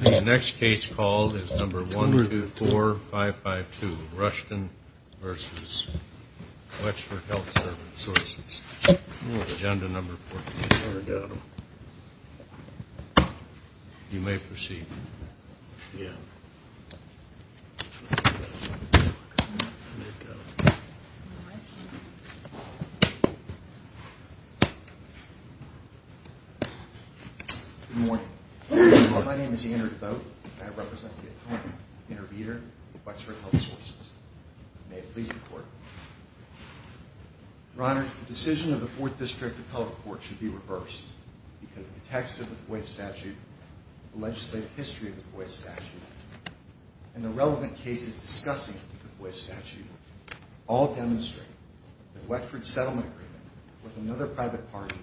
The next case called is number 124552, Rushton v. Wexner Health Services. Agenda number 14. You may proceed. My name is Andrew DeVoe, and I represent the attorney, intermediary, Wexner Health Sources. May it please the Court. Your Honor, the decision of the Fourth District Appellate Court should be reversed because the text of the FOIA statute, the legislative history of the FOIA statute, and the relevant cases discussing the FOIA statute all demonstrate that Wexner's settlement agreement with another private party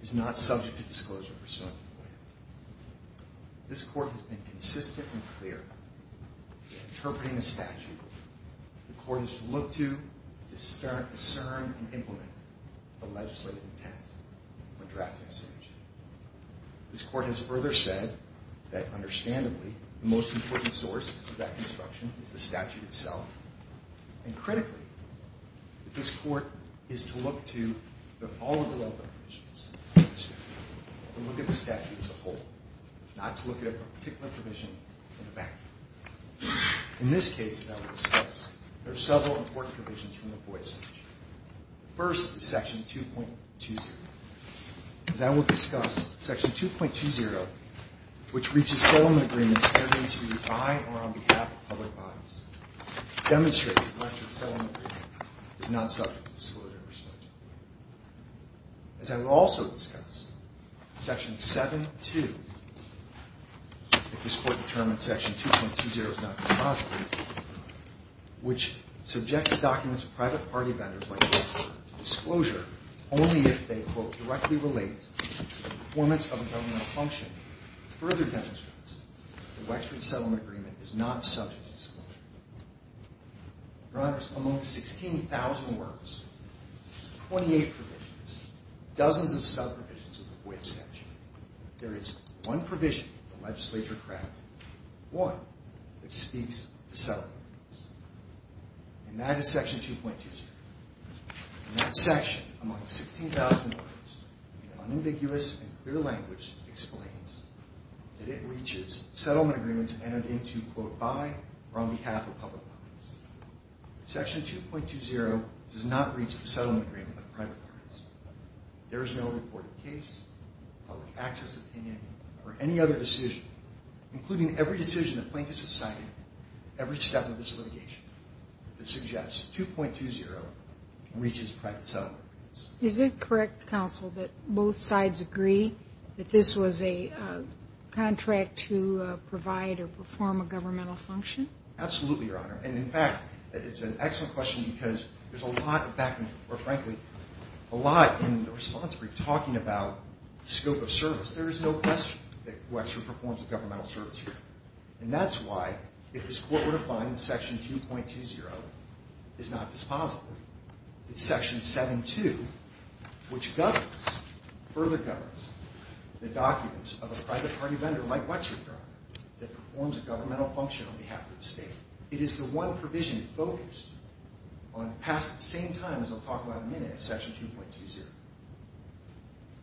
is not subject to disclosure or pursuant to FOIA. This Court has been consistent and clear that in interpreting a statute, the Court is to look to discern and implement the legislative intent when drafting a statute. This Court has further said that, understandably, the most important source of that construction is the statute itself, and critically, that this Court is to look to all of the relevant provisions of the statute and look at the statute as a whole, not to look at a particular provision in a vacuum. In this case, as I will discuss, there are several important provisions from the FOIA statute. The first is Section 2.20. As I will discuss, Section 2.20, which reaches settlement agreements, whether they need to be by or on behalf of public bodies, demonstrates that Wexner's settlement agreement is not subject to disclosure or pursuant to FOIA. As I will also discuss, Section 7.2, if this Court determines Section 2.20 is not responsible for FOIA, which subjects documents of private party vendors like Wexner to disclosure only if they, quote, directly relate to the performance of a governmental function, further demonstrates that Wexner's settlement agreement is not subject to disclosure. Your Honors, among 16,000 words, 28 provisions, dozens of sub-provisions of the FOIA statute, there is one provision the legislature crafted, one that speaks to settlement agreements, and that is Section 2.20. And that section, among 16,000 words, in unambiguous and clear language, explains that it reaches settlement agreements entered into, quote, by or on behalf of public bodies. Section 2.20 does not reach the settlement agreement of private parties. There is no reported case, public access opinion, or any other decision, including every decision the plaintiffs have cited, every step of this litigation, that suggests 2.20 reaches private settlement agreements. Is it correct, Counsel, that both sides agree that this was a contract to provide or perform a governmental function? Absolutely, Your Honor. And, in fact, it's an excellent question because there's a lot, frankly, a lot in the response brief talking about scope of service. There is no question that Wexner performs a governmental service here. And that's why, if this Court were to find that Section 2.20 is not dispositive, it's Section 7.2, which governs, further governs, the documents of a private party vendor like Wexner, Your Honor, that performs a governmental function on behalf of the state. It is the one provision focused on, passed at the same time as I'll talk about in a minute, Section 2.20.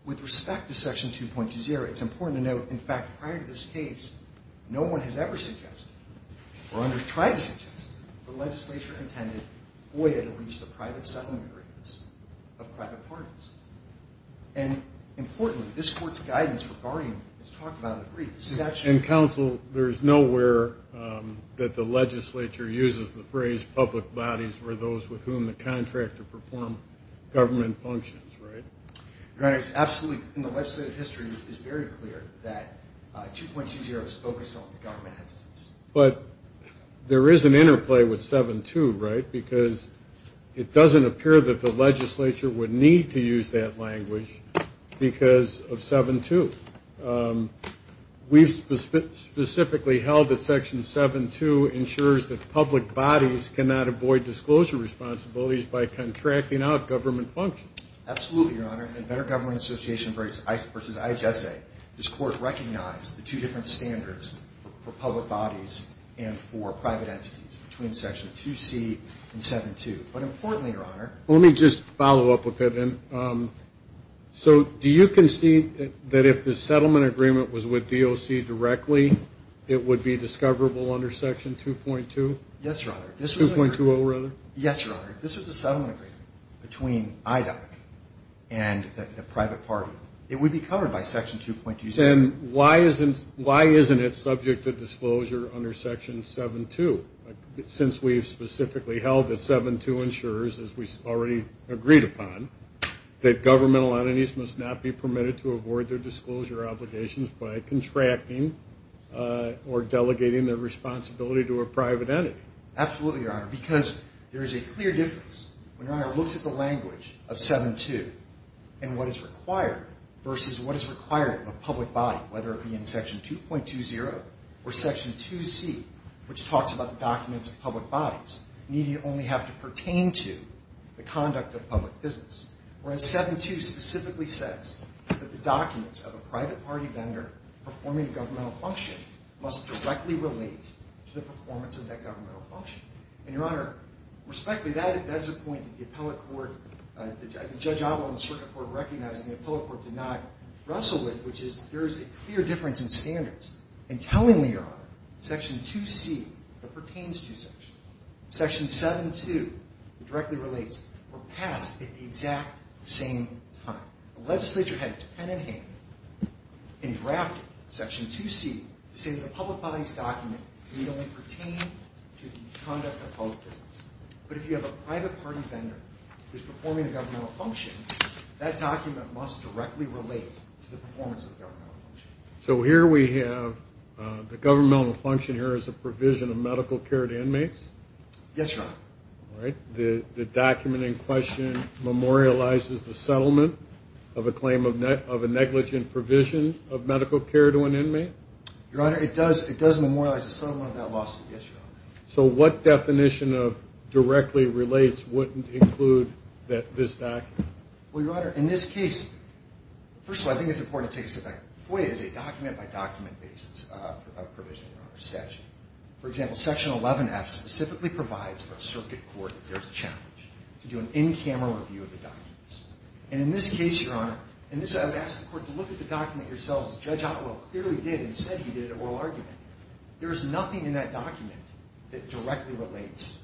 With respect to Section 2.20, it's important to note, in fact, that prior to this case, no one has ever suggested or under tried to suggest the legislature intended FOIA to reach the private settlement agreements of private parties. And, importantly, this Court's guidance regarding, as talked about in the brief, this is actually... And, Counsel, there is nowhere that the legislature uses the phrase public bodies were those with whom the contract to perform government functions, right? Your Honor, it's absolutely, in the legislative history, it's very clear that 2.20 is focused on the government entities. But there is an interplay with 7.2, right? Because it doesn't appear that the legislature would need to use that language because of 7.2. We've specifically held that Section 7.2 ensures that public bodies cannot avoid disclosure responsibilities by contracting out government functions. Absolutely, Your Honor. In Better Government Association v. IHSA, this Court recognized the two different standards for public bodies and for private entities between Section 2C and 7.2. But, importantly, Your Honor... Let me just follow up with that then. So do you concede that if the settlement agreement was with DOC directly, it would be discoverable under Section 2.2? 2.20, rather? Yes, Your Honor. If this was a settlement agreement between IDOC and the private party, it would be covered by Section 2.20. Then why isn't it subject to disclosure under Section 7.2? Since we've specifically held that 7.2 ensures, as we already agreed upon, that governmental entities must not be permitted to avoid their disclosure obligations by contracting or delegating their responsibility to a private entity. Absolutely, Your Honor, because there is a clear difference when Your Honor looks at the language of 7.2 and what is required versus what is required of a public body, whether it be in Section 2.20 or Section 2C, which talks about the documents of public bodies needing to only have to pertain to the conduct of public business, whereas 7.2 specifically says that the documents of a private party vendor performing a governmental function must directly relate to the performance of that governmental function. And, Your Honor, respectfully, that is a point that the appellate court, the judge on the circuit court recognized, and the appellate court did not wrestle with, which is there is a clear difference in standards. And tellingly, Your Honor, Section 2C, that pertains to Section 7.2, that directly relates, were passed at the exact same time. The legislature had its pen in hand in drafting Section 2C to say that the public body's document need only pertain to the conduct of public business. But if you have a private party vendor who is performing a governmental function, that document must directly relate to the performance of the governmental function. So here we have the governmental function here as a provision of medical care to inmates? Yes, Your Honor. All right. of a negligent provision of medical care to an inmate? Your Honor, it does memorialize a settlement of that lawsuit. Yes, Your Honor. So what definition of directly relates wouldn't include this document? Well, Your Honor, in this case, first of all, I think it's important to take us back. FOIA is a document-by-document basis of provision, Your Honor. For example, Section 11F specifically provides for a circuit court if there's a challenge to do an in-camera review of the documents. And in this case, Your Honor, and I would ask the court to look at the document yourselves, Judge Otwell clearly did, and said he did, an oral argument. There is nothing in that document that directly relates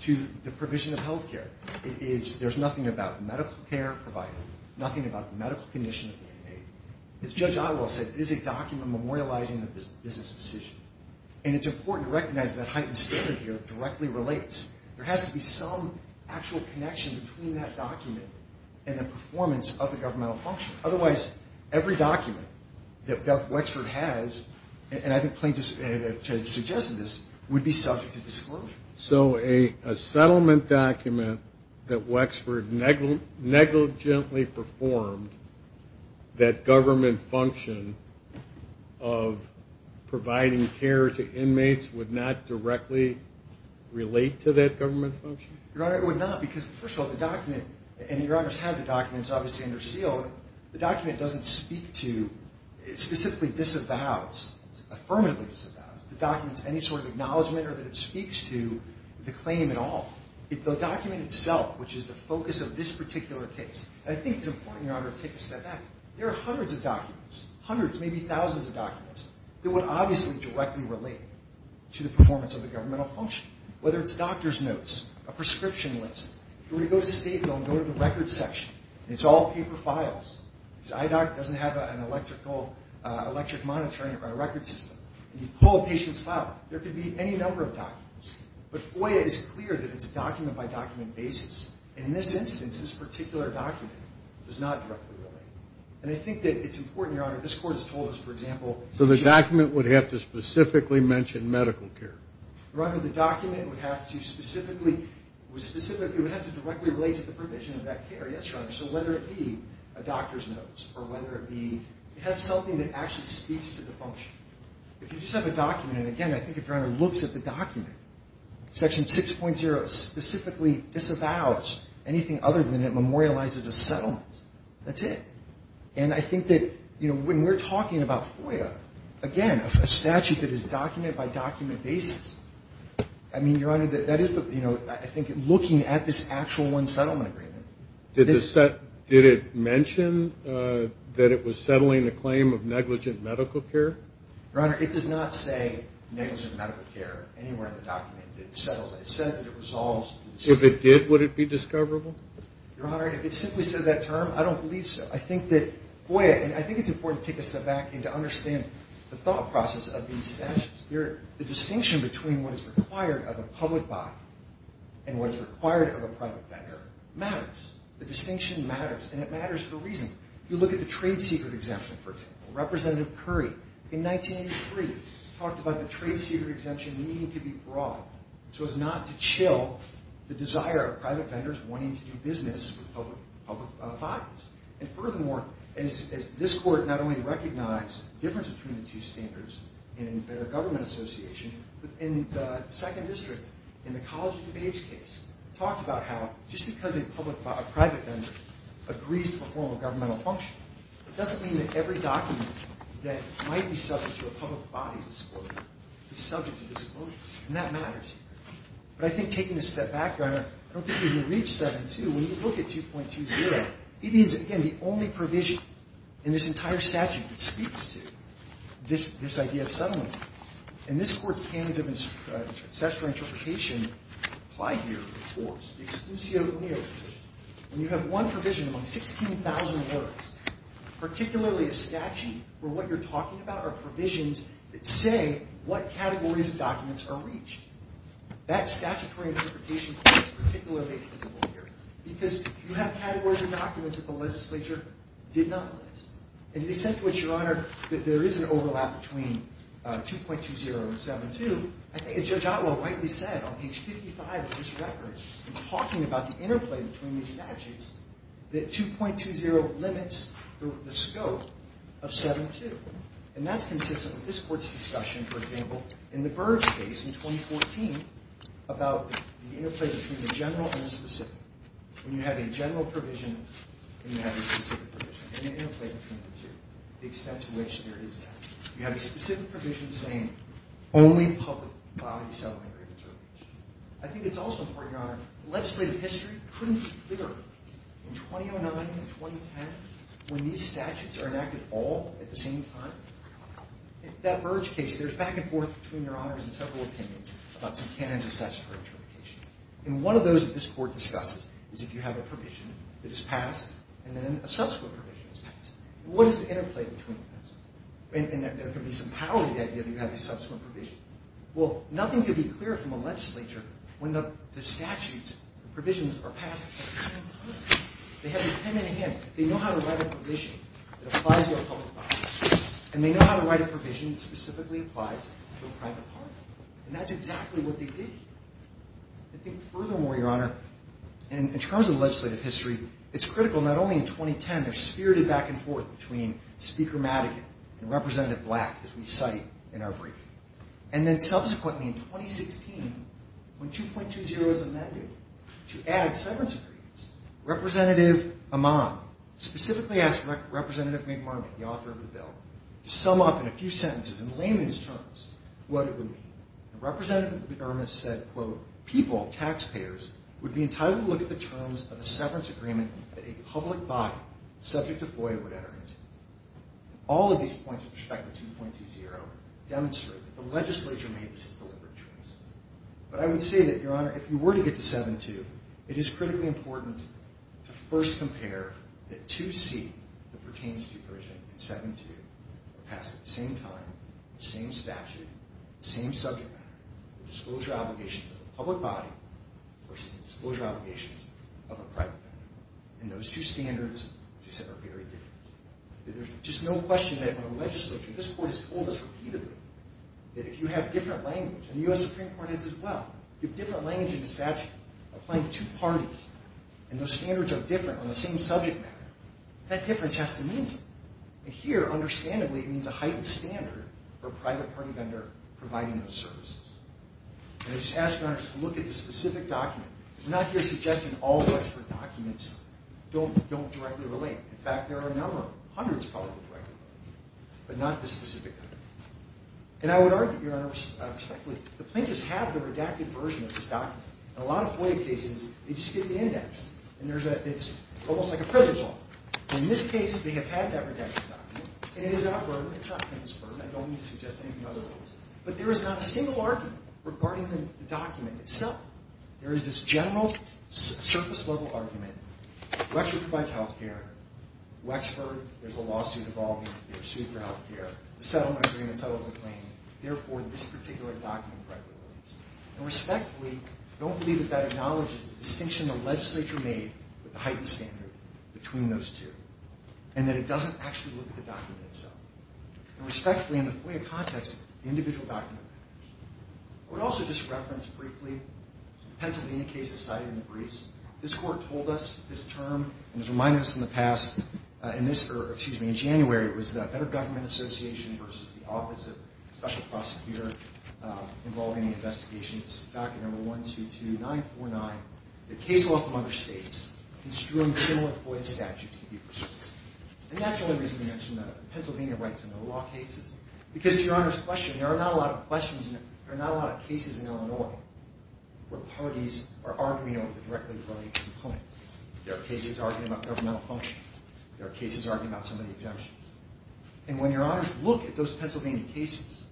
to the provision of health care. There's nothing about medical care provided, nothing about the medical condition of the inmate. As Judge Otwell said, it is a document memorializing the business decision. And it's important to recognize that that heightened standard here directly relates. There has to be some actual connection between that document and the performance of the governmental function. Otherwise, every document that Wexford has, and I think plaintiffs have suggested this, would be subject to disclosure. So a settlement document that Wexford negligently performed, that government function of providing care to inmates would not directly relate to that government function? Your Honor, it would not, because first of all, the document, and Your Honors have the documents obviously under seal, the document doesn't speak to, specifically disavows, affirmatively disavows the documents, any sort of acknowledgement, or that it speaks to the claim at all. The document itself, which is the focus of this particular case, and I think it's important, Your Honor, to take a step back. There are hundreds of documents, hundreds, maybe thousands of documents, that would obviously directly relate to the performance of the governmental function. Whether it's doctor's notes, a prescription list, if you were to go to Stateville and go to the records section, and it's all paper files, because IDOC doesn't have an electric monitoring of our records system, and you pull a patient's file, there could be any number of documents. But FOIA is clear that it's a document by document basis. In this instance, this particular document does not directly relate. And I think that it's important, Your Honor, this Court has told us, for example, So the document would have to specifically mention medical care? Your Honor, the document would have to specifically, it would have to directly relate to the provision of that care, yes, Your Honor. So whether it be a doctor's notes, or whether it be, it has something that actually speaks to the function. If you just have a document, and again, I think if Your Honor looks at the document, section 6.0 specifically disavows anything other than it memorializes a settlement. That's it. And I think that, you know, when we're talking about FOIA, again, a statute that is document by document basis. I mean, Your Honor, that is the, you know, I think looking at this actual one settlement agreement. Did it mention that it was settling the claim of negligent medical care? Your Honor, it does not say negligent medical care anywhere in the document. It says that it resolves. If it did, would it be discoverable? Your Honor, if it simply said that term, I don't believe so. I think that FOIA, and I think it's important to take a step back and to understand the thought process of these statutes. The distinction between what is required of a public body and what is required of a private vendor matters. The distinction matters, and it matters for a reason. If you look at the trade secret exemption, for example, Representative Curry in 1983 talked about the trade secret exemption needing to be broad so as not to chill the desire of private vendors wanting to do business with public bodies. And furthermore, this Court not only recognized the difference between the two standards in their government association, but in the second district, in the College of DuPage case, talked about how just because a private vendor agrees to perform a governmental function, it doesn't mean that every document that might be subject to a public body's disclosure is subject to disclosure, and that matters. But I think taking a step back, Your Honor, I don't think we've even reached 7-2. When you look at 2.20, it is, again, the only provision in this entire statute that speaks to this idea of sublimity. And this Court's canons of intercessory interpretation apply here, of course. The Exclusio Neo position, when you have one provision among 16,000 words, particularly a statute where what you're talking about are provisions that say what categories of documents are reached, that statutory interpretation is particularly applicable here because you have categories of documents that the legislature did not release. And to the extent to which, Your Honor, that there is an overlap between 2.20 and 7-2, I think as Judge Otwell rightly said on page 55 of his record in talking about the interplay between these statutes, that 2.20 limits the scope of 7-2. And that's consistent with this Court's discussion, for example, in the Burge case in 2014 about the interplay between the general and the specific. When you have a general provision, you have a specific provision, and you interplay between the two, to the extent to which there is that. You have a specific provision saying only public body settlement agreements are reached. I think it's also important, Your Honor, the legislative history couldn't be clearer. In 2009 and 2010, when these statutes are enacted all at the same time, that Burge case, there's back and forth between Your Honors in several opinions about some canons of statutory interpretation. And one of those that this Court discusses is if you have a provision that is passed and then a subsequent provision is passed. What is the interplay between those? And there could be some power to the idea that you have a subsequent provision. Well, nothing could be clearer from a legislature when the statutes and provisions are passed at the same time. They have a pen in hand. They know how to write a provision that applies to a public body. And they know how to write a provision that specifically applies to a private party. And that's exactly what they did here. I think furthermore, Your Honor, in terms of legislative history, it's critical not only in 2010, there's spirited back and forth between Speaker Madigan and Representative Black, as we cite in our brief. And then subsequently in 2016, when 2.20 is amended to add settlements agreements, Representative Ahman specifically asked Representative McMartin, the author of the bill, to sum up in a few sentences in layman's terms what it would mean. And Representative McMartin said, quote, people, taxpayers, would be entitled to look at the terms of a severance agreement that a public body subject to FOIA would enter into. All of these points with respect to 2.20 demonstrate that the legislature made this deliberate choice. But I would say that, Your Honor, if you were to get to 7.2, it is critically important to first compare that 2C, the pertains to provision in 7.2, passed at the same time, the same statute, the same subject matter, the disclosure obligations of a public body versus the disclosure obligations of a private party. And those two standards, as I said, are very different. There's just no question that in the legislature, this Court has told us repeatedly that if you have different language, and the U.S. Supreme Court has as well, you have different language in the statute, applying to two parties, and those standards are different on the same subject matter, that difference has to mean something. And here, understandably, it means a heightened standard for a private party vendor providing those services. And I just ask, Your Honor, to look at the specific document. We're not here suggesting all the expert documents don't directly relate. In fact, there are a number of them. Hundreds probably relate, but not this specific document. And I would argue, Your Honor, respectfully, the plaintiffs have the redacted version of this document. In a lot of FOIA cases, they just get the index, and it's almost like a prisoner's law. In this case, they have had that redacted document, and it is not Berger, it's not Prentiss-Berger, and I don't need to suggest any of the other ones. But there is not a single argument regarding the document itself. There is this general surface-level argument. Wexford provides health care. Wexford, there's a lawsuit evolving, they're sued for health care. The settlement agreement settles the claim. Therefore, this particular document rightly relates. And respectfully, I don't believe that that acknowledges the distinction the legislature made with the heightened standard between those two, and that it doesn't actually look at the document itself. And respectfully, in the FOIA context, the individual document matters. I would also just reference briefly the Pennsylvania case cited in the briefs. This Court told us this term, and has reminded us in the past, in January, it was the Federal Government Association versus the Office of Special Prosecutor involving the investigation. It's document number 122949. The case law from other states construed similar FOIA statutes to be pursued. And that's the only reason we mentioned the Pennsylvania right to no-law cases, because, to Your Honor's question, there are not a lot of questions, there are not a lot of cases in Illinois where parties are arguing over the directly-related component. There are cases arguing about governmental functions. There are cases arguing about some of the exemptions. And when Your Honors look at those Pennsylvania cases,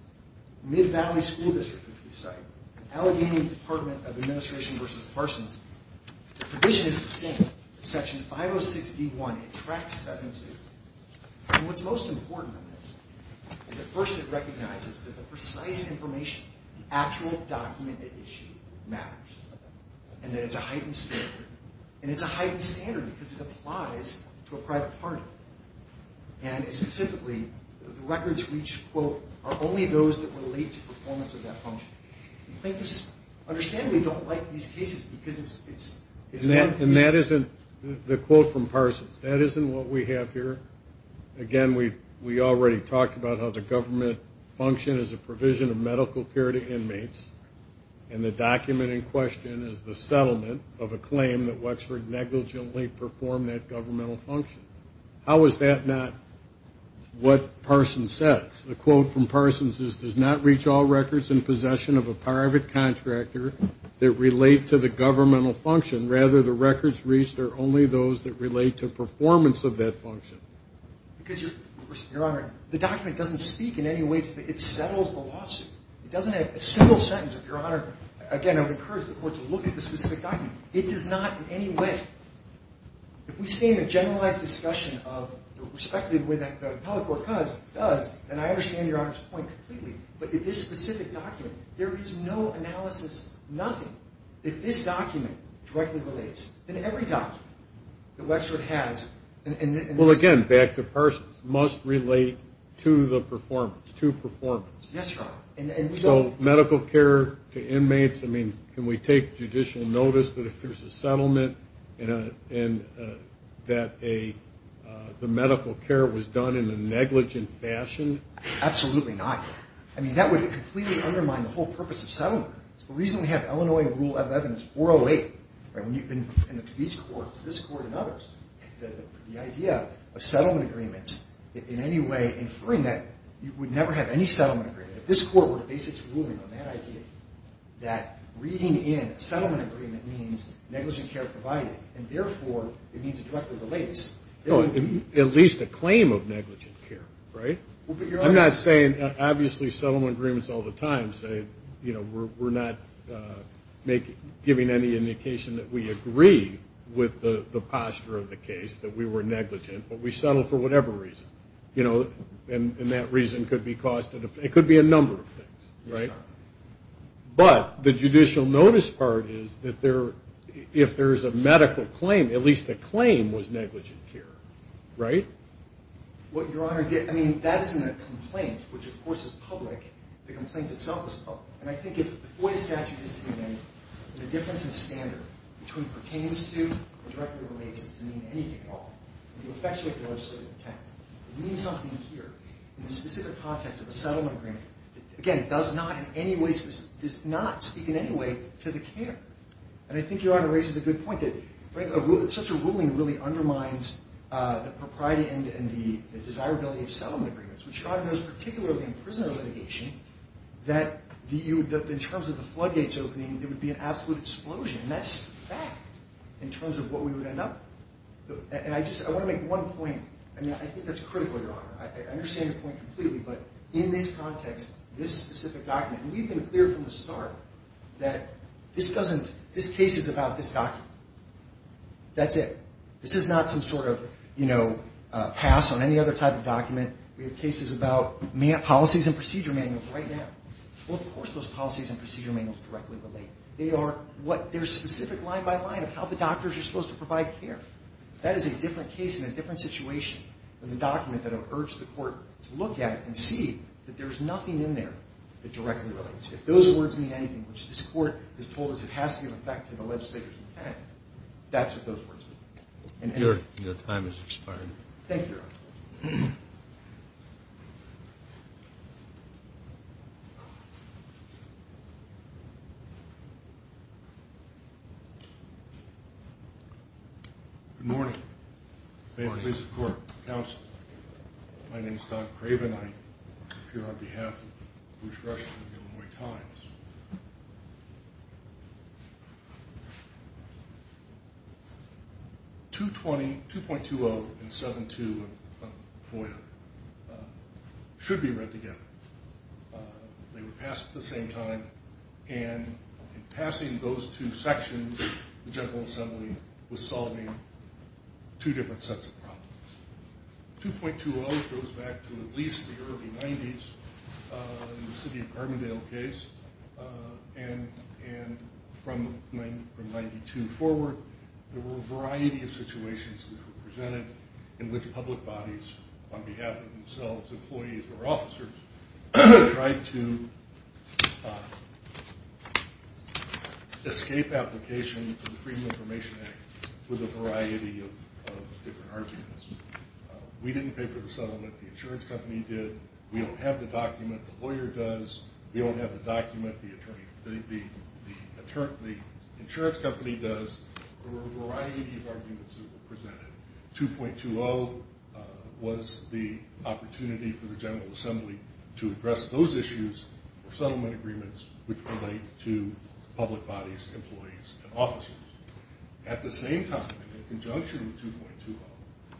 Mid-Valley School District, which we cite, and Allegheny Department of Administration versus Parsons, the position is the same. In Section 506d.1, it tracks 7-2. And what's most important in this is, at first, it recognizes that the precise information, the actual document at issue, matters, and that it's a heightened standard. Because it applies to a private party. And specifically, the records reach, quote, are only those that relate to performance of that function. And plaintiffs understandably don't like these cases because it's one piece. And that isn't the quote from Parsons. That isn't what we have here. Again, we already talked about how the government function is a provision of medical care to inmates. And the document in question is the settlement of a claim that Wexford negligently performed that governmental function. How is that not what Parsons says? The quote from Parsons is, does not reach all records in possession of a private contractor that relate to the governmental function. Rather, the records reached are only those that relate to performance of that function. Because, Your Honor, the document doesn't speak in any way to the, it settles the lawsuit. It doesn't have a single sentence, Your Honor. Again, I would encourage the court to look at the specific document. It does not in any way. If we stay in a generalized discussion of the respect to the way that the appellate court does, then I understand Your Honor's point completely. But in this specific document, there is no analysis, nothing. If this document directly relates, then every document that Wexford has. Well, again, back to Parsons, must relate to the performance, to performance. Yes, Your Honor. So, medical care to inmates. I mean, can we take judicial notice that if there's a settlement, that the medical care was done in a negligent fashion? Absolutely not. I mean, that would completely undermine the whole purpose of settlement. It's the reason we have Illinois Rule of Evidence 408. In these courts, this court and others, the idea of settlement agreements in any way inferring that you would never have any settlement agreement. If this court were to base its ruling on that idea, that reading in a settlement agreement means negligent care provided, and therefore it means it directly relates. At least a claim of negligent care, right? I'm not saying, obviously, settlement agreements all the time say, you know, we're not giving any indication that we agree with the posture of the case, that we were negligent, but we settled for whatever reason. You know, and that reason could be a number of things, right? But the judicial notice part is that if there's a medical claim, at least the claim was negligent care, right? Well, Your Honor, I mean, that isn't a complaint, which of course is public. The complaint itself is public. And I think if the FOIA statute is to be made, the difference in standard between pertains to and directly relates is to mean anything at all. It affects the legislative intent. It means something here in the specific context of a settlement agreement. Again, it does not in any way, does not speak in any way to the care. And I think Your Honor raises a good point, that such a ruling really undermines the propriety and the desirability of settlement agreements, which Your Honor knows particularly in prisoner litigation, that in terms of the floodgates opening, it would be an absolute explosion. And that's a fact in terms of what we would end up. And I just, I want to make one point. I mean, I think that's critical, Your Honor. I understand your point completely, but in this context, this specific document, and we've been clear from the start that this doesn't, this case is about this document. That's it. This is not some sort of, you know, pass on any other type of document. We have cases about policies and procedure manuals right now. Well, of course those policies and procedure manuals directly relate. They are what, they're specific line by line of how the doctors are supposed to provide care. That is a different case and a different situation than the document that I would urge the court to look at and see that there's nothing in there that directly relates. If those words mean anything, which this court has told us it has to give effect to the legislator's intent, that's what those words mean. Your time has expired. Thank you, Your Honor. Good morning. May it please the court, counsel. My name is Don Craven. I appear on behalf of Bruce Rush of the Illinois Times. 220, 2.20, and 7.2 of FOIA should be read together. They were passed at the same time, and in passing those two sections, the General Assembly was solving two different sets of problems. 2.20 goes back to at least the early 90s in the city of Carbondale case, and from 92 forward there were a variety of situations that were presented in which public bodies, on behalf of themselves, employees, or officers, tried to escape application for the Freedom of Information Act with a variety of different arguments. We didn't pay for the settlement. The insurance company did. We don't have the document. The lawyer does. We don't have the document. The insurance company does. There were a variety of arguments that were presented. 2.20 was the opportunity for the General Assembly to address those issues for settlement agreements which relate to public bodies, employees, and officers. At the same time, in conjunction with 2.20,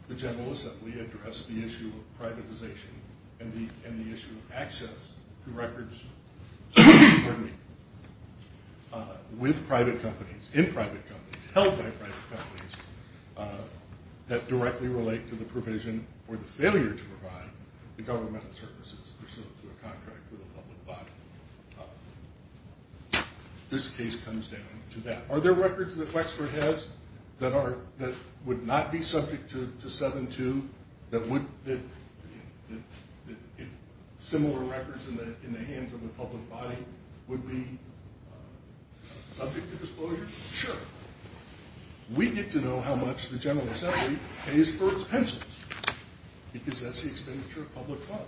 the General Assembly addressed the issue of privatization and the issue of access to records with private companies, in private companies, held by private companies, that directly relate to the provision or the failure to provide the governmental services pursuant to a contract with a public body. This case comes down to that. Are there records that Wexler has that would not be subject to 7.2, that similar records in the hands of a public body would be subject to disclosure? Sure. We get to know how much the General Assembly pays for its pencils because that's the expenditure of public funds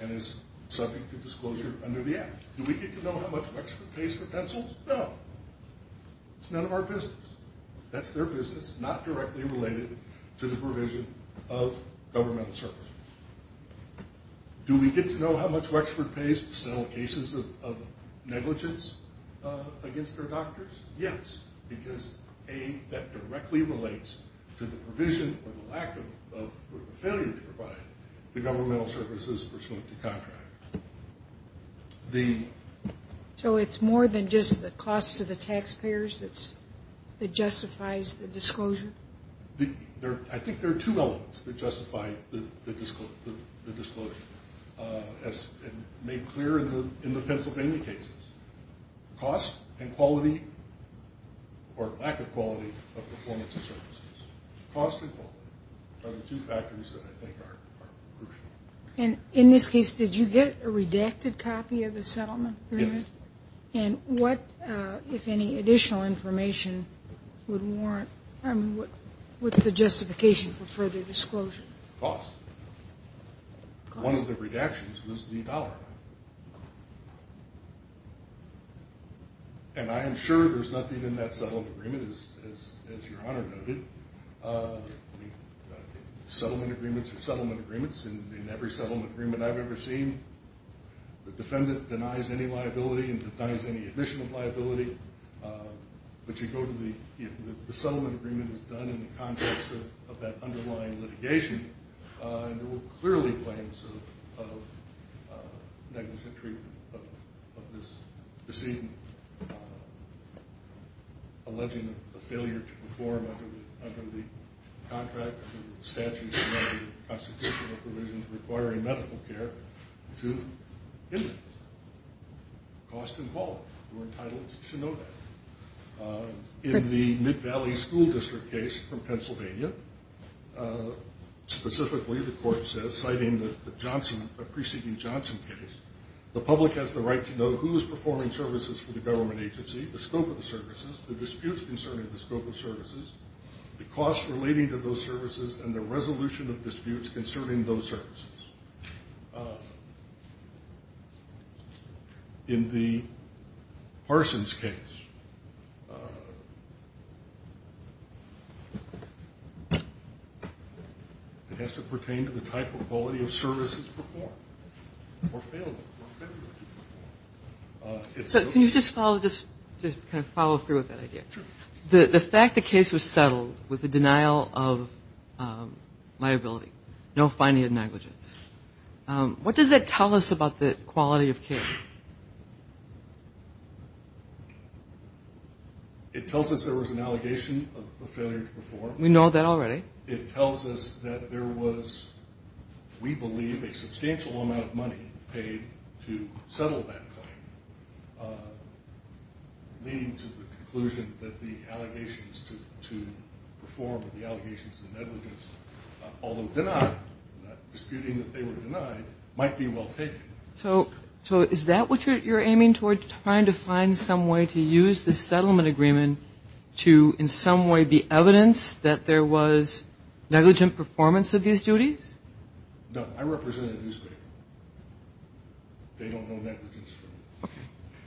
and is subject to disclosure under the Act. Do we get to know how much Wexler pays for pencils? No. It's none of our business. That's their business, not directly related to the provision of governmental services. Do we get to know how much Wexler pays to settle cases of negligence against their doctors? Yes, because, A, that directly relates to the provision or the lack of or the failure to provide the governmental services pursuant to contract. So it's more than just the cost to the taxpayers that justifies the disclosure? I think there are two elements that justify the disclosure, as made clear in the Pennsylvania cases. Cost and quality or lack of quality of performance of services. Cost and quality are the two factors that I think are crucial. And in this case, did you get a redacted copy of the settlement agreement? Yes. And what, if any, additional information would warrant what's the justification for further disclosure? Cost. One of the redactions was the dollar amount. And I am sure there's nothing in that settlement agreement, as Your Honor noted. Settlement agreements are settlement agreements, and in every settlement agreement I've ever seen, the defendant denies any liability and denies any additional liability. But you go to the settlement agreement as done in the context of that underlying litigation, and there were clearly claims of negligent treatment of this decedent, alleging a failure to perform under the contract, under the statutes and under the constitutional provisions requiring medical care to inmates. Cost and quality were entitled to know that. In the Mid-Valley School District case from Pennsylvania, specifically the court says, citing the preceding Johnson case, the public has the right to know who is performing services for the government agency, the scope of the services, the disputes concerning the scope of services, the cost relating to those services, and the resolution of disputes concerning those services. In the Parsons case, it has to pertain to the type of quality of services performed, or failure to perform. Can you just follow through with that idea? Sure. The fact the case was settled with the denial of liability, no finding of negligence. What does that tell us about the quality of care? It tells us there was an allegation of a failure to perform. We know that already. It tells us that there was, we believe, a substantial amount of money paid to settle that claim, leading to the conclusion that the allegations to perform or the allegations of negligence, although denied, we're not disputing that they were denied, might be well taken. So is that what you're aiming toward, trying to find some way to use the settlement agreement to in some way be evidence that there was negligent performance of these duties? No. I represent a newspaper. They don't know negligence. Okay.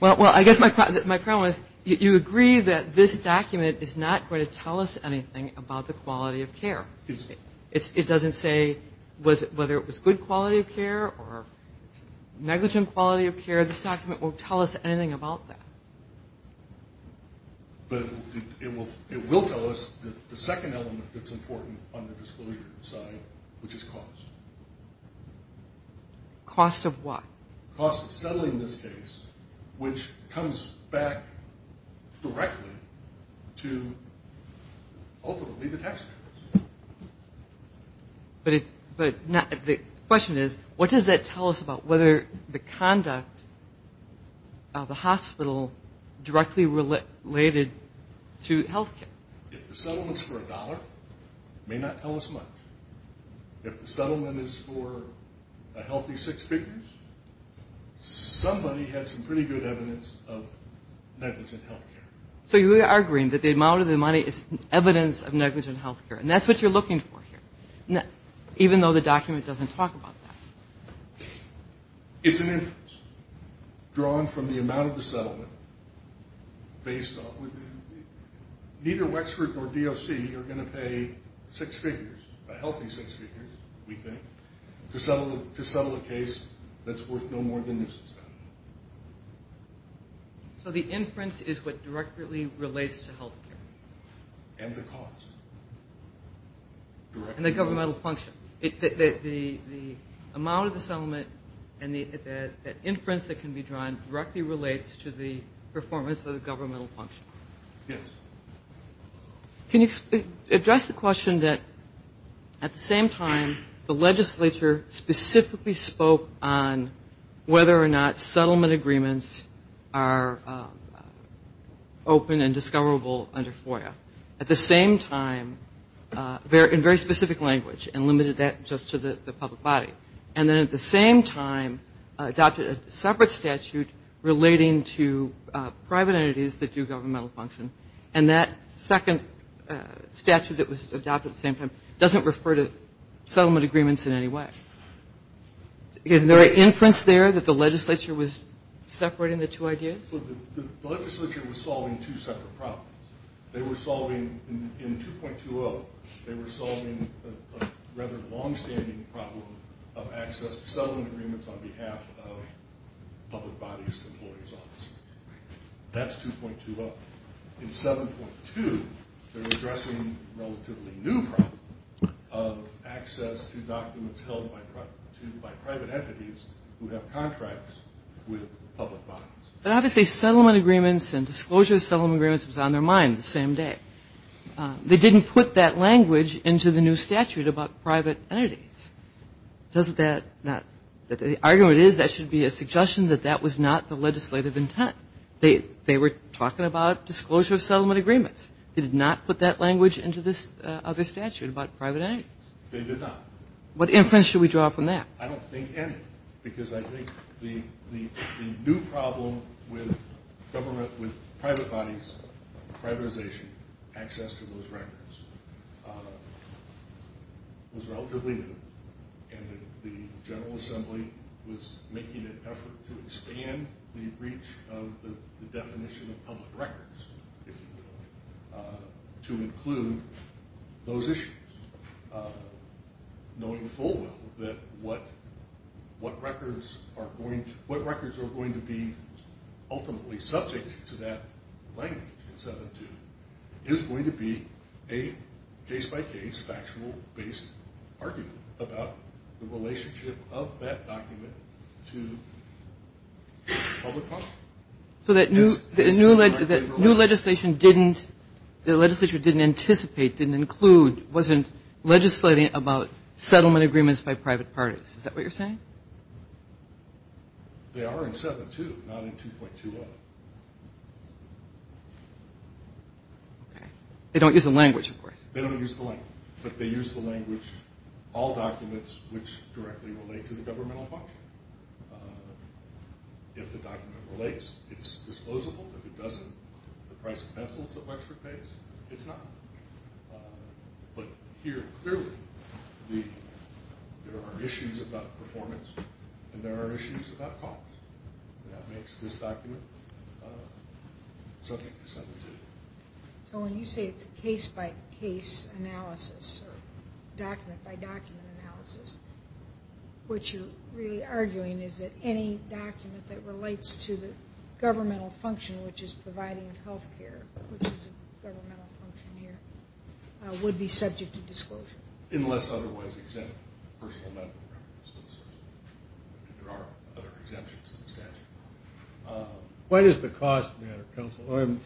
Well, I guess my problem is you agree that this document is not going to tell us anything about the quality of care. It doesn't say whether it was good quality of care or negligent quality of care. This document won't tell us anything about that. But it will tell us the second element that's important on the disclosure side, which is cost. Cost of what? Cost of settling this case, which comes back directly to ultimately the tax credits. But the question is, what does that tell us about whether the conduct of the hospital directly related to health care? If the settlement's for a dollar, it may not tell us much. If the settlement is for a healthy six figures, somebody had some pretty good evidence of negligent health care. So you are agreeing that the amount of the money is evidence of negligent health care, and that's what you're looking for here, even though the document doesn't talk about that? It's an inference drawn from the amount of the settlement based on what we do. Neither Wexford nor DOC are going to pay six figures, a healthy six figures, we think, to settle a case that's worth no more than this is. So the inference is what directly relates to health care. And the cost. And the governmental function. The amount of the settlement and the inference that can be drawn directly relates to the performance of the governmental function. Yes. Can you address the question that, at the same time, the legislature specifically spoke on whether or not settlement agreements are open and discoverable under FOIA. At the same time, in very specific language, and limited that just to the public body. And then, at the same time, adopted a separate statute relating to private entities that do governmental function. And that second statute that was adopted at the same time doesn't refer to settlement agreements in any way. Isn't there an inference there that the legislature was separating the two ideas? So the legislature was solving two separate problems. They were solving, in 2.20, they were solving a rather longstanding problem of access to settlement agreements on behalf of public bodies' employees' offices. That's 2.20. In 7.2, they're addressing a relatively new problem of access to documents held by private entities who have contracts with public bodies. But obviously, settlement agreements and disclosure of settlement agreements was on their mind the same day. They didn't put that language into the new statute about private entities. Doesn't that not, the argument is that should be a suggestion that that was not the legislative intent. They were talking about disclosure of settlement agreements. They did not put that language into this other statute about private entities. They did not. What inference should we draw from that? I don't think any, because I think the new problem with government, with private bodies, privatization, access to those records was relatively new. And the General Assembly was making an effort to expand the reach of the definition of public records, if you will, to include those issues. Knowing full well that what records are going to be ultimately subject to that language in 7.2 is going to be a case-by-case, factual-based argument about the relationship of that document to public property. So that new legislation didn't, the legislature didn't anticipate, didn't include, wasn't legislating about settlement agreements by private parties. Is that what you're saying? They are in 7.2, not in 2.20. They don't use the language, of course. They don't use the language. But they use the language, all documents which directly relate to the governmental function. If the document relates, it's disposable. If it doesn't, the price of pencils that Wexford pays, it's not. But here, clearly, there are issues about performance and there are issues about cost. And that makes this document subject to 7.2. So when you say it's a case-by-case analysis, or document-by-document analysis, what you're really arguing is that any document that relates to the governmental function, which is providing health care, which is a governmental function here, would be subject to disclosure. Unless otherwise exempted. Personal medical records, those sorts of things. There are other exemptions in the statute. Why does the cost matter, counsel?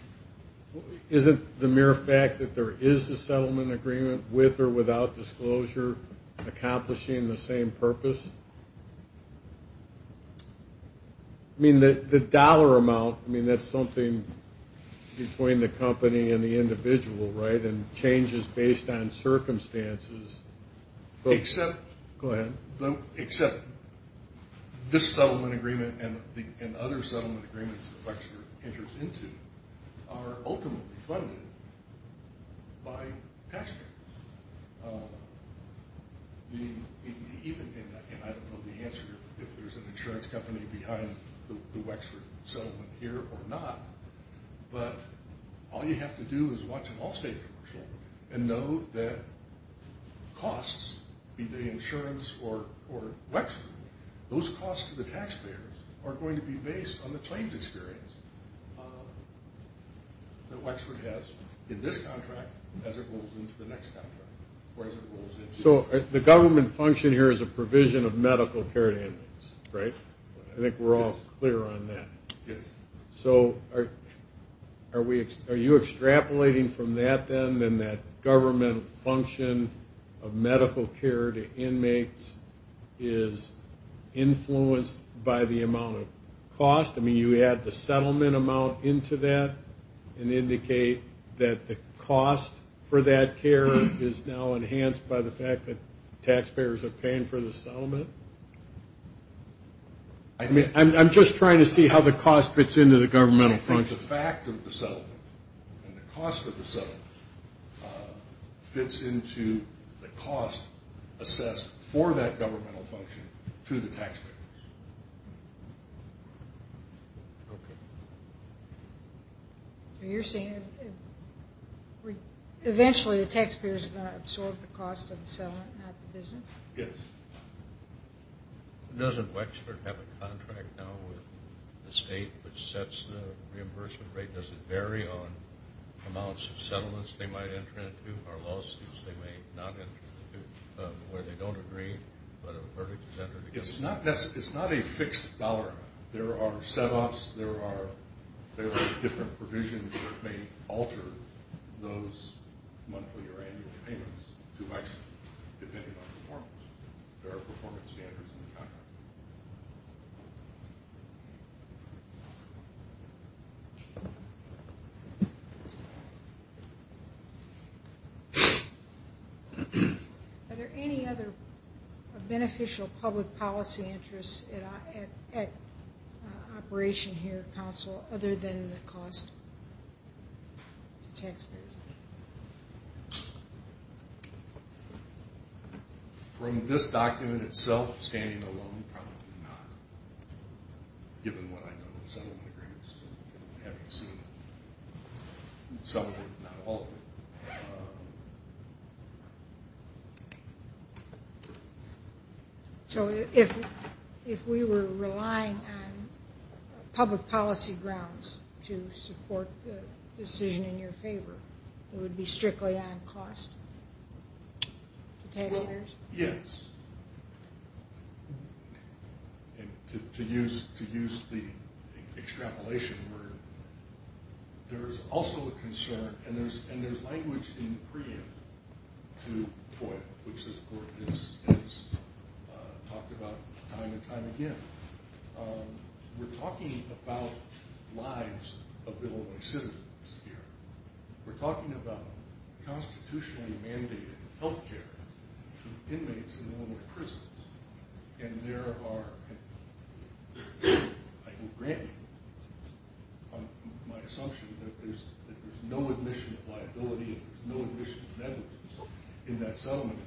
Isn't the mere fact that there is a settlement agreement with or without disclosure accomplishing the same purpose? I mean, the dollar amount, I mean, that's something between the company and the individual, right? And change is based on circumstances. Go ahead. Except this settlement agreement and other settlement agreements that Wexford enters into are ultimately funded by taxpayers. And I don't know the answer to if there's an insurance company behind the Wexford settlement here or not. But all you have to do is watch an Allstate commercial and know that costs, be they insurance or Wexford, those costs to the taxpayers are going to be based on the claims experience that Wexford has in this contract as it rolls into the next contract or as it rolls into the next contract. So the government function here is a provision of medical care and ambulance, right? I think we're all clear on that. Yes. So are you extrapolating from that, then, that government function of medical care to inmates is influenced by the amount of cost? I mean, you add the settlement amount into that and indicate that the cost for that care is now enhanced by the fact that taxpayers are paying for the settlement? I'm just trying to see how the cost fits into the governmental function. The fact of the settlement and the cost of the settlement fits into the cost assessed for that governmental function to the taxpayers. Okay. So you're saying eventually the taxpayers are going to absorb the cost of the settlement, not the business? Yes. Doesn't Wexford have a contract now with the state which sets the reimbursement rate? Does it vary on amounts of settlements they might enter into or lawsuits they may not enter into where they don't agree but a verdict is entered against them? It's not a fixed dollar. There are set-offs. There are different provisions that may alter those monthly or annual payments to license them depending on their performance standards in the contract. Are there any other beneficial public policy interests at operation here at Council other than the cost to taxpayers? From this document itself, standing alone, probably not, given what I know of settlement agreements and having seen some of it, not all of it. So if we were relying on public policy grounds to support the decision in your favor, it would be strictly on cost to taxpayers? Yes. To use the extrapolation word, there's also a concern and there's language in the preamble to FOIA which the court has talked about time and time again. We're talking about lives of Illinois citizens here. We're talking about constitutionally mandated health care to inmates in Illinois prisons. And there are, I can grant you my assumption that there's no admission of liability and no admission of negligence in that settlement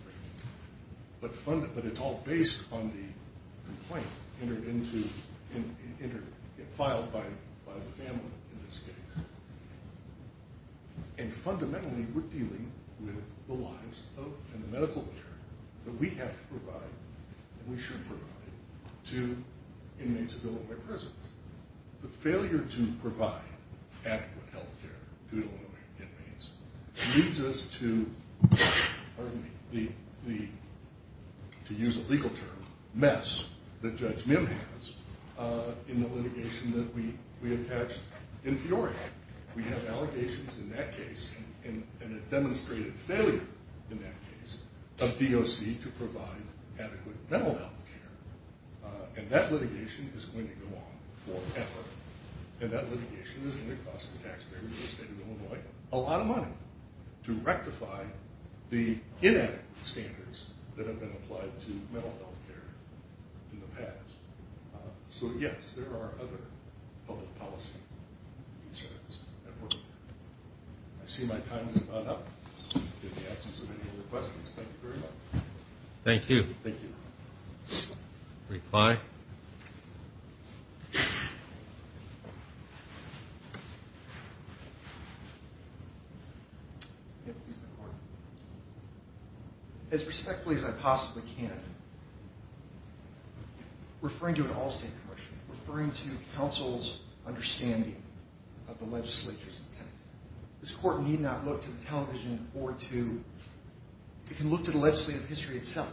agreement. But it's all based on the complaint filed by the family in this case. And fundamentally we're dealing with the lives and the medical care that we have to provide and we should provide to inmates of Illinois prisons. The failure to provide adequate health care to Illinois inmates leads us to the, pardon me, to use a legal term, mess that Judge Mim has in the litigation that we attached in FIORA. We have allegations in that case and a demonstrated failure in that case of DOC to provide adequate mental health care. And that litigation is going to go on forever. And that litigation is going to cost the taxpayers of the state of Illinois a lot of money to rectify the inadequate standards that have been applied to mental health care in the past. So, yes, there are other public policy concerns at work. I see my time is about up in the absence of any other questions. Thank you very much. Thank you. Thank you. Reply. As respectfully as I possibly can, referring to an all-state commission, referring to counsel's understanding of the legislature's intent, this court need not look to the television or to, it can look to the legislative history itself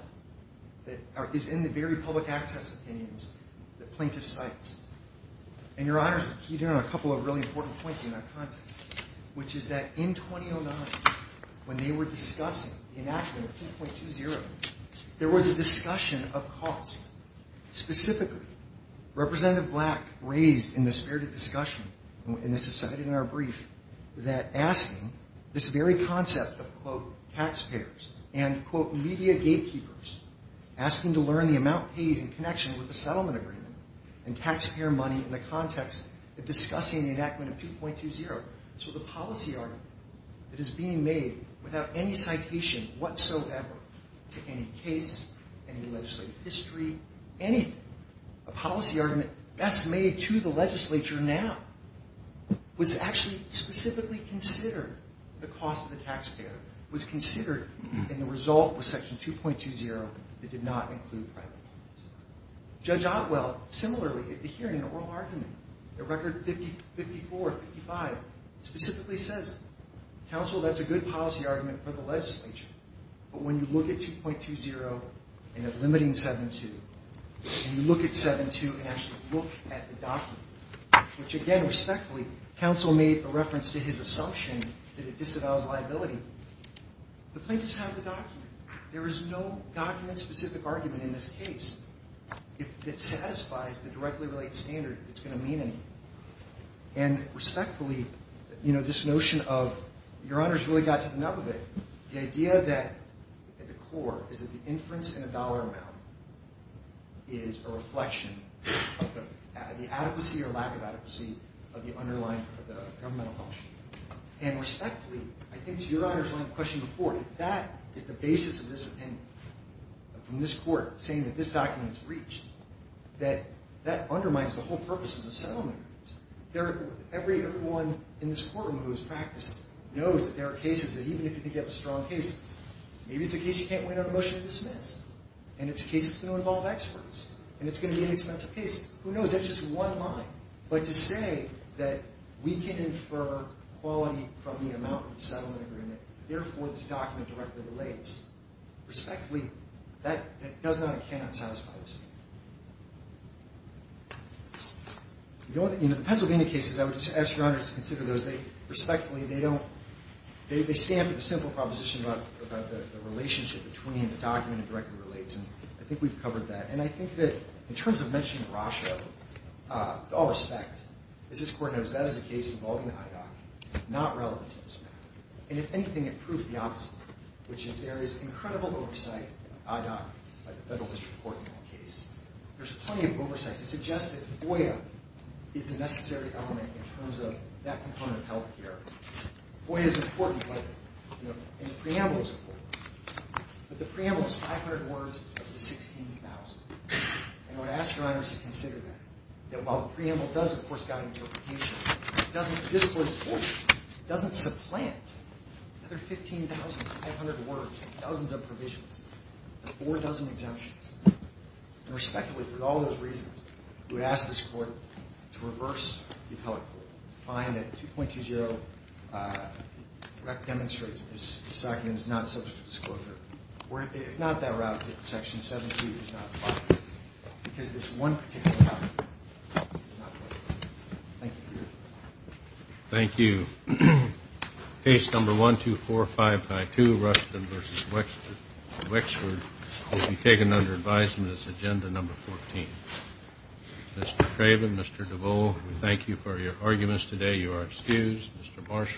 that is in the very public access opinions that plaintiff cites. And, Your Honors, he did a couple of really important points in that context, which is that in 2009, when they were discussing the enactment of 4.20, there was a discussion of cost. Specifically, Representative Black raised in the spirit of discussion and this is cited in our brief, that asking this very concept of, quote, taxpayers and, quote, media gatekeepers, asking to learn the amount paid in connection with the settlement agreement and taxpayer money in the context of discussing the enactment of 2.20. So the policy argument that is being made without any citation whatsoever to any case, any legislative history, anything, a policy argument best made to the legislature now, was actually specifically considered the cost of the taxpayer, was considered and the result was Section 2.20 that did not include private tax. Judge Otwell, similarly, at the hearing, an oral argument, at Record 54, 55, specifically says, counsel, that's a good policy argument for the legislature, but when you look at 2.20 and at limiting 7.2, and you look at 7.2 and actually look at the document, which again, respectfully, counsel made a reference to his assumption that it disavows liability. The plaintiffs have the document. There is no document-specific argument in this case that satisfies the directly related standard that's going to mean anything. And respectfully, you know, this notion of, your honors really got to the nub of it, the idea that at the core is that the inference in a dollar amount is a reflection of the adequacy or lack of adequacy of the underlying governmental function. And respectfully, I think to your honors' line of question before, if that is the basis of this opinion, from this court, saying that this document is breached, that undermines the whole purposes of settlement agreements. Everyone in this courtroom who has practiced knows that there are cases that even if you think you have a strong case, maybe it's a case you can't wait on a motion to dismiss. And it's a case that's going to involve experts. And it's going to be an expensive case. Who knows? That's just one line. But to say that we can infer quality from the amount of the settlement agreement, therefore this document directly relates. Respectfully, that does not and cannot satisfy this. You know, the Pennsylvania cases, I would ask your honors to consider those. Because respectfully, they stand for the simple proposition about the relationship between the document and directly relates. And I think we've covered that. And I think that in terms of mentioning RASHA, with all respect, as this Court knows, that is a case involving IDOC, not relevant to this matter. And if anything, it proves the opposite. Which is there is incredible oversight of IDOC by the Federal District Court in that case. There's plenty of oversight to suggest that FOIA is the necessary element in terms of that component of health care. FOIA is important. And the preamble is important. But the preamble is 500 words of the 16,000. And I would ask your honors to consider that. That while the preamble does, of course, guide interpretations, it doesn't disperse orders. It doesn't supplant another 15,500 words and dozens of provisions and four dozen exemptions. And respectfully, for all those reasons, I would ask this Court to reverse the appellate rule and find that 2.20 demonstrates that this document is not a social disclosure. If not that route, then Section 17 is not appellate. Because this one particular route is not appellate. Thank you for your time. Thank you. Case number 1245 by 2, Rushton v. Wexford, will be taken under advisement as agenda number 14. Mr. Craven, Mr. DeVoe, we thank you for your arguments today. You are excused. Mr. Marshall.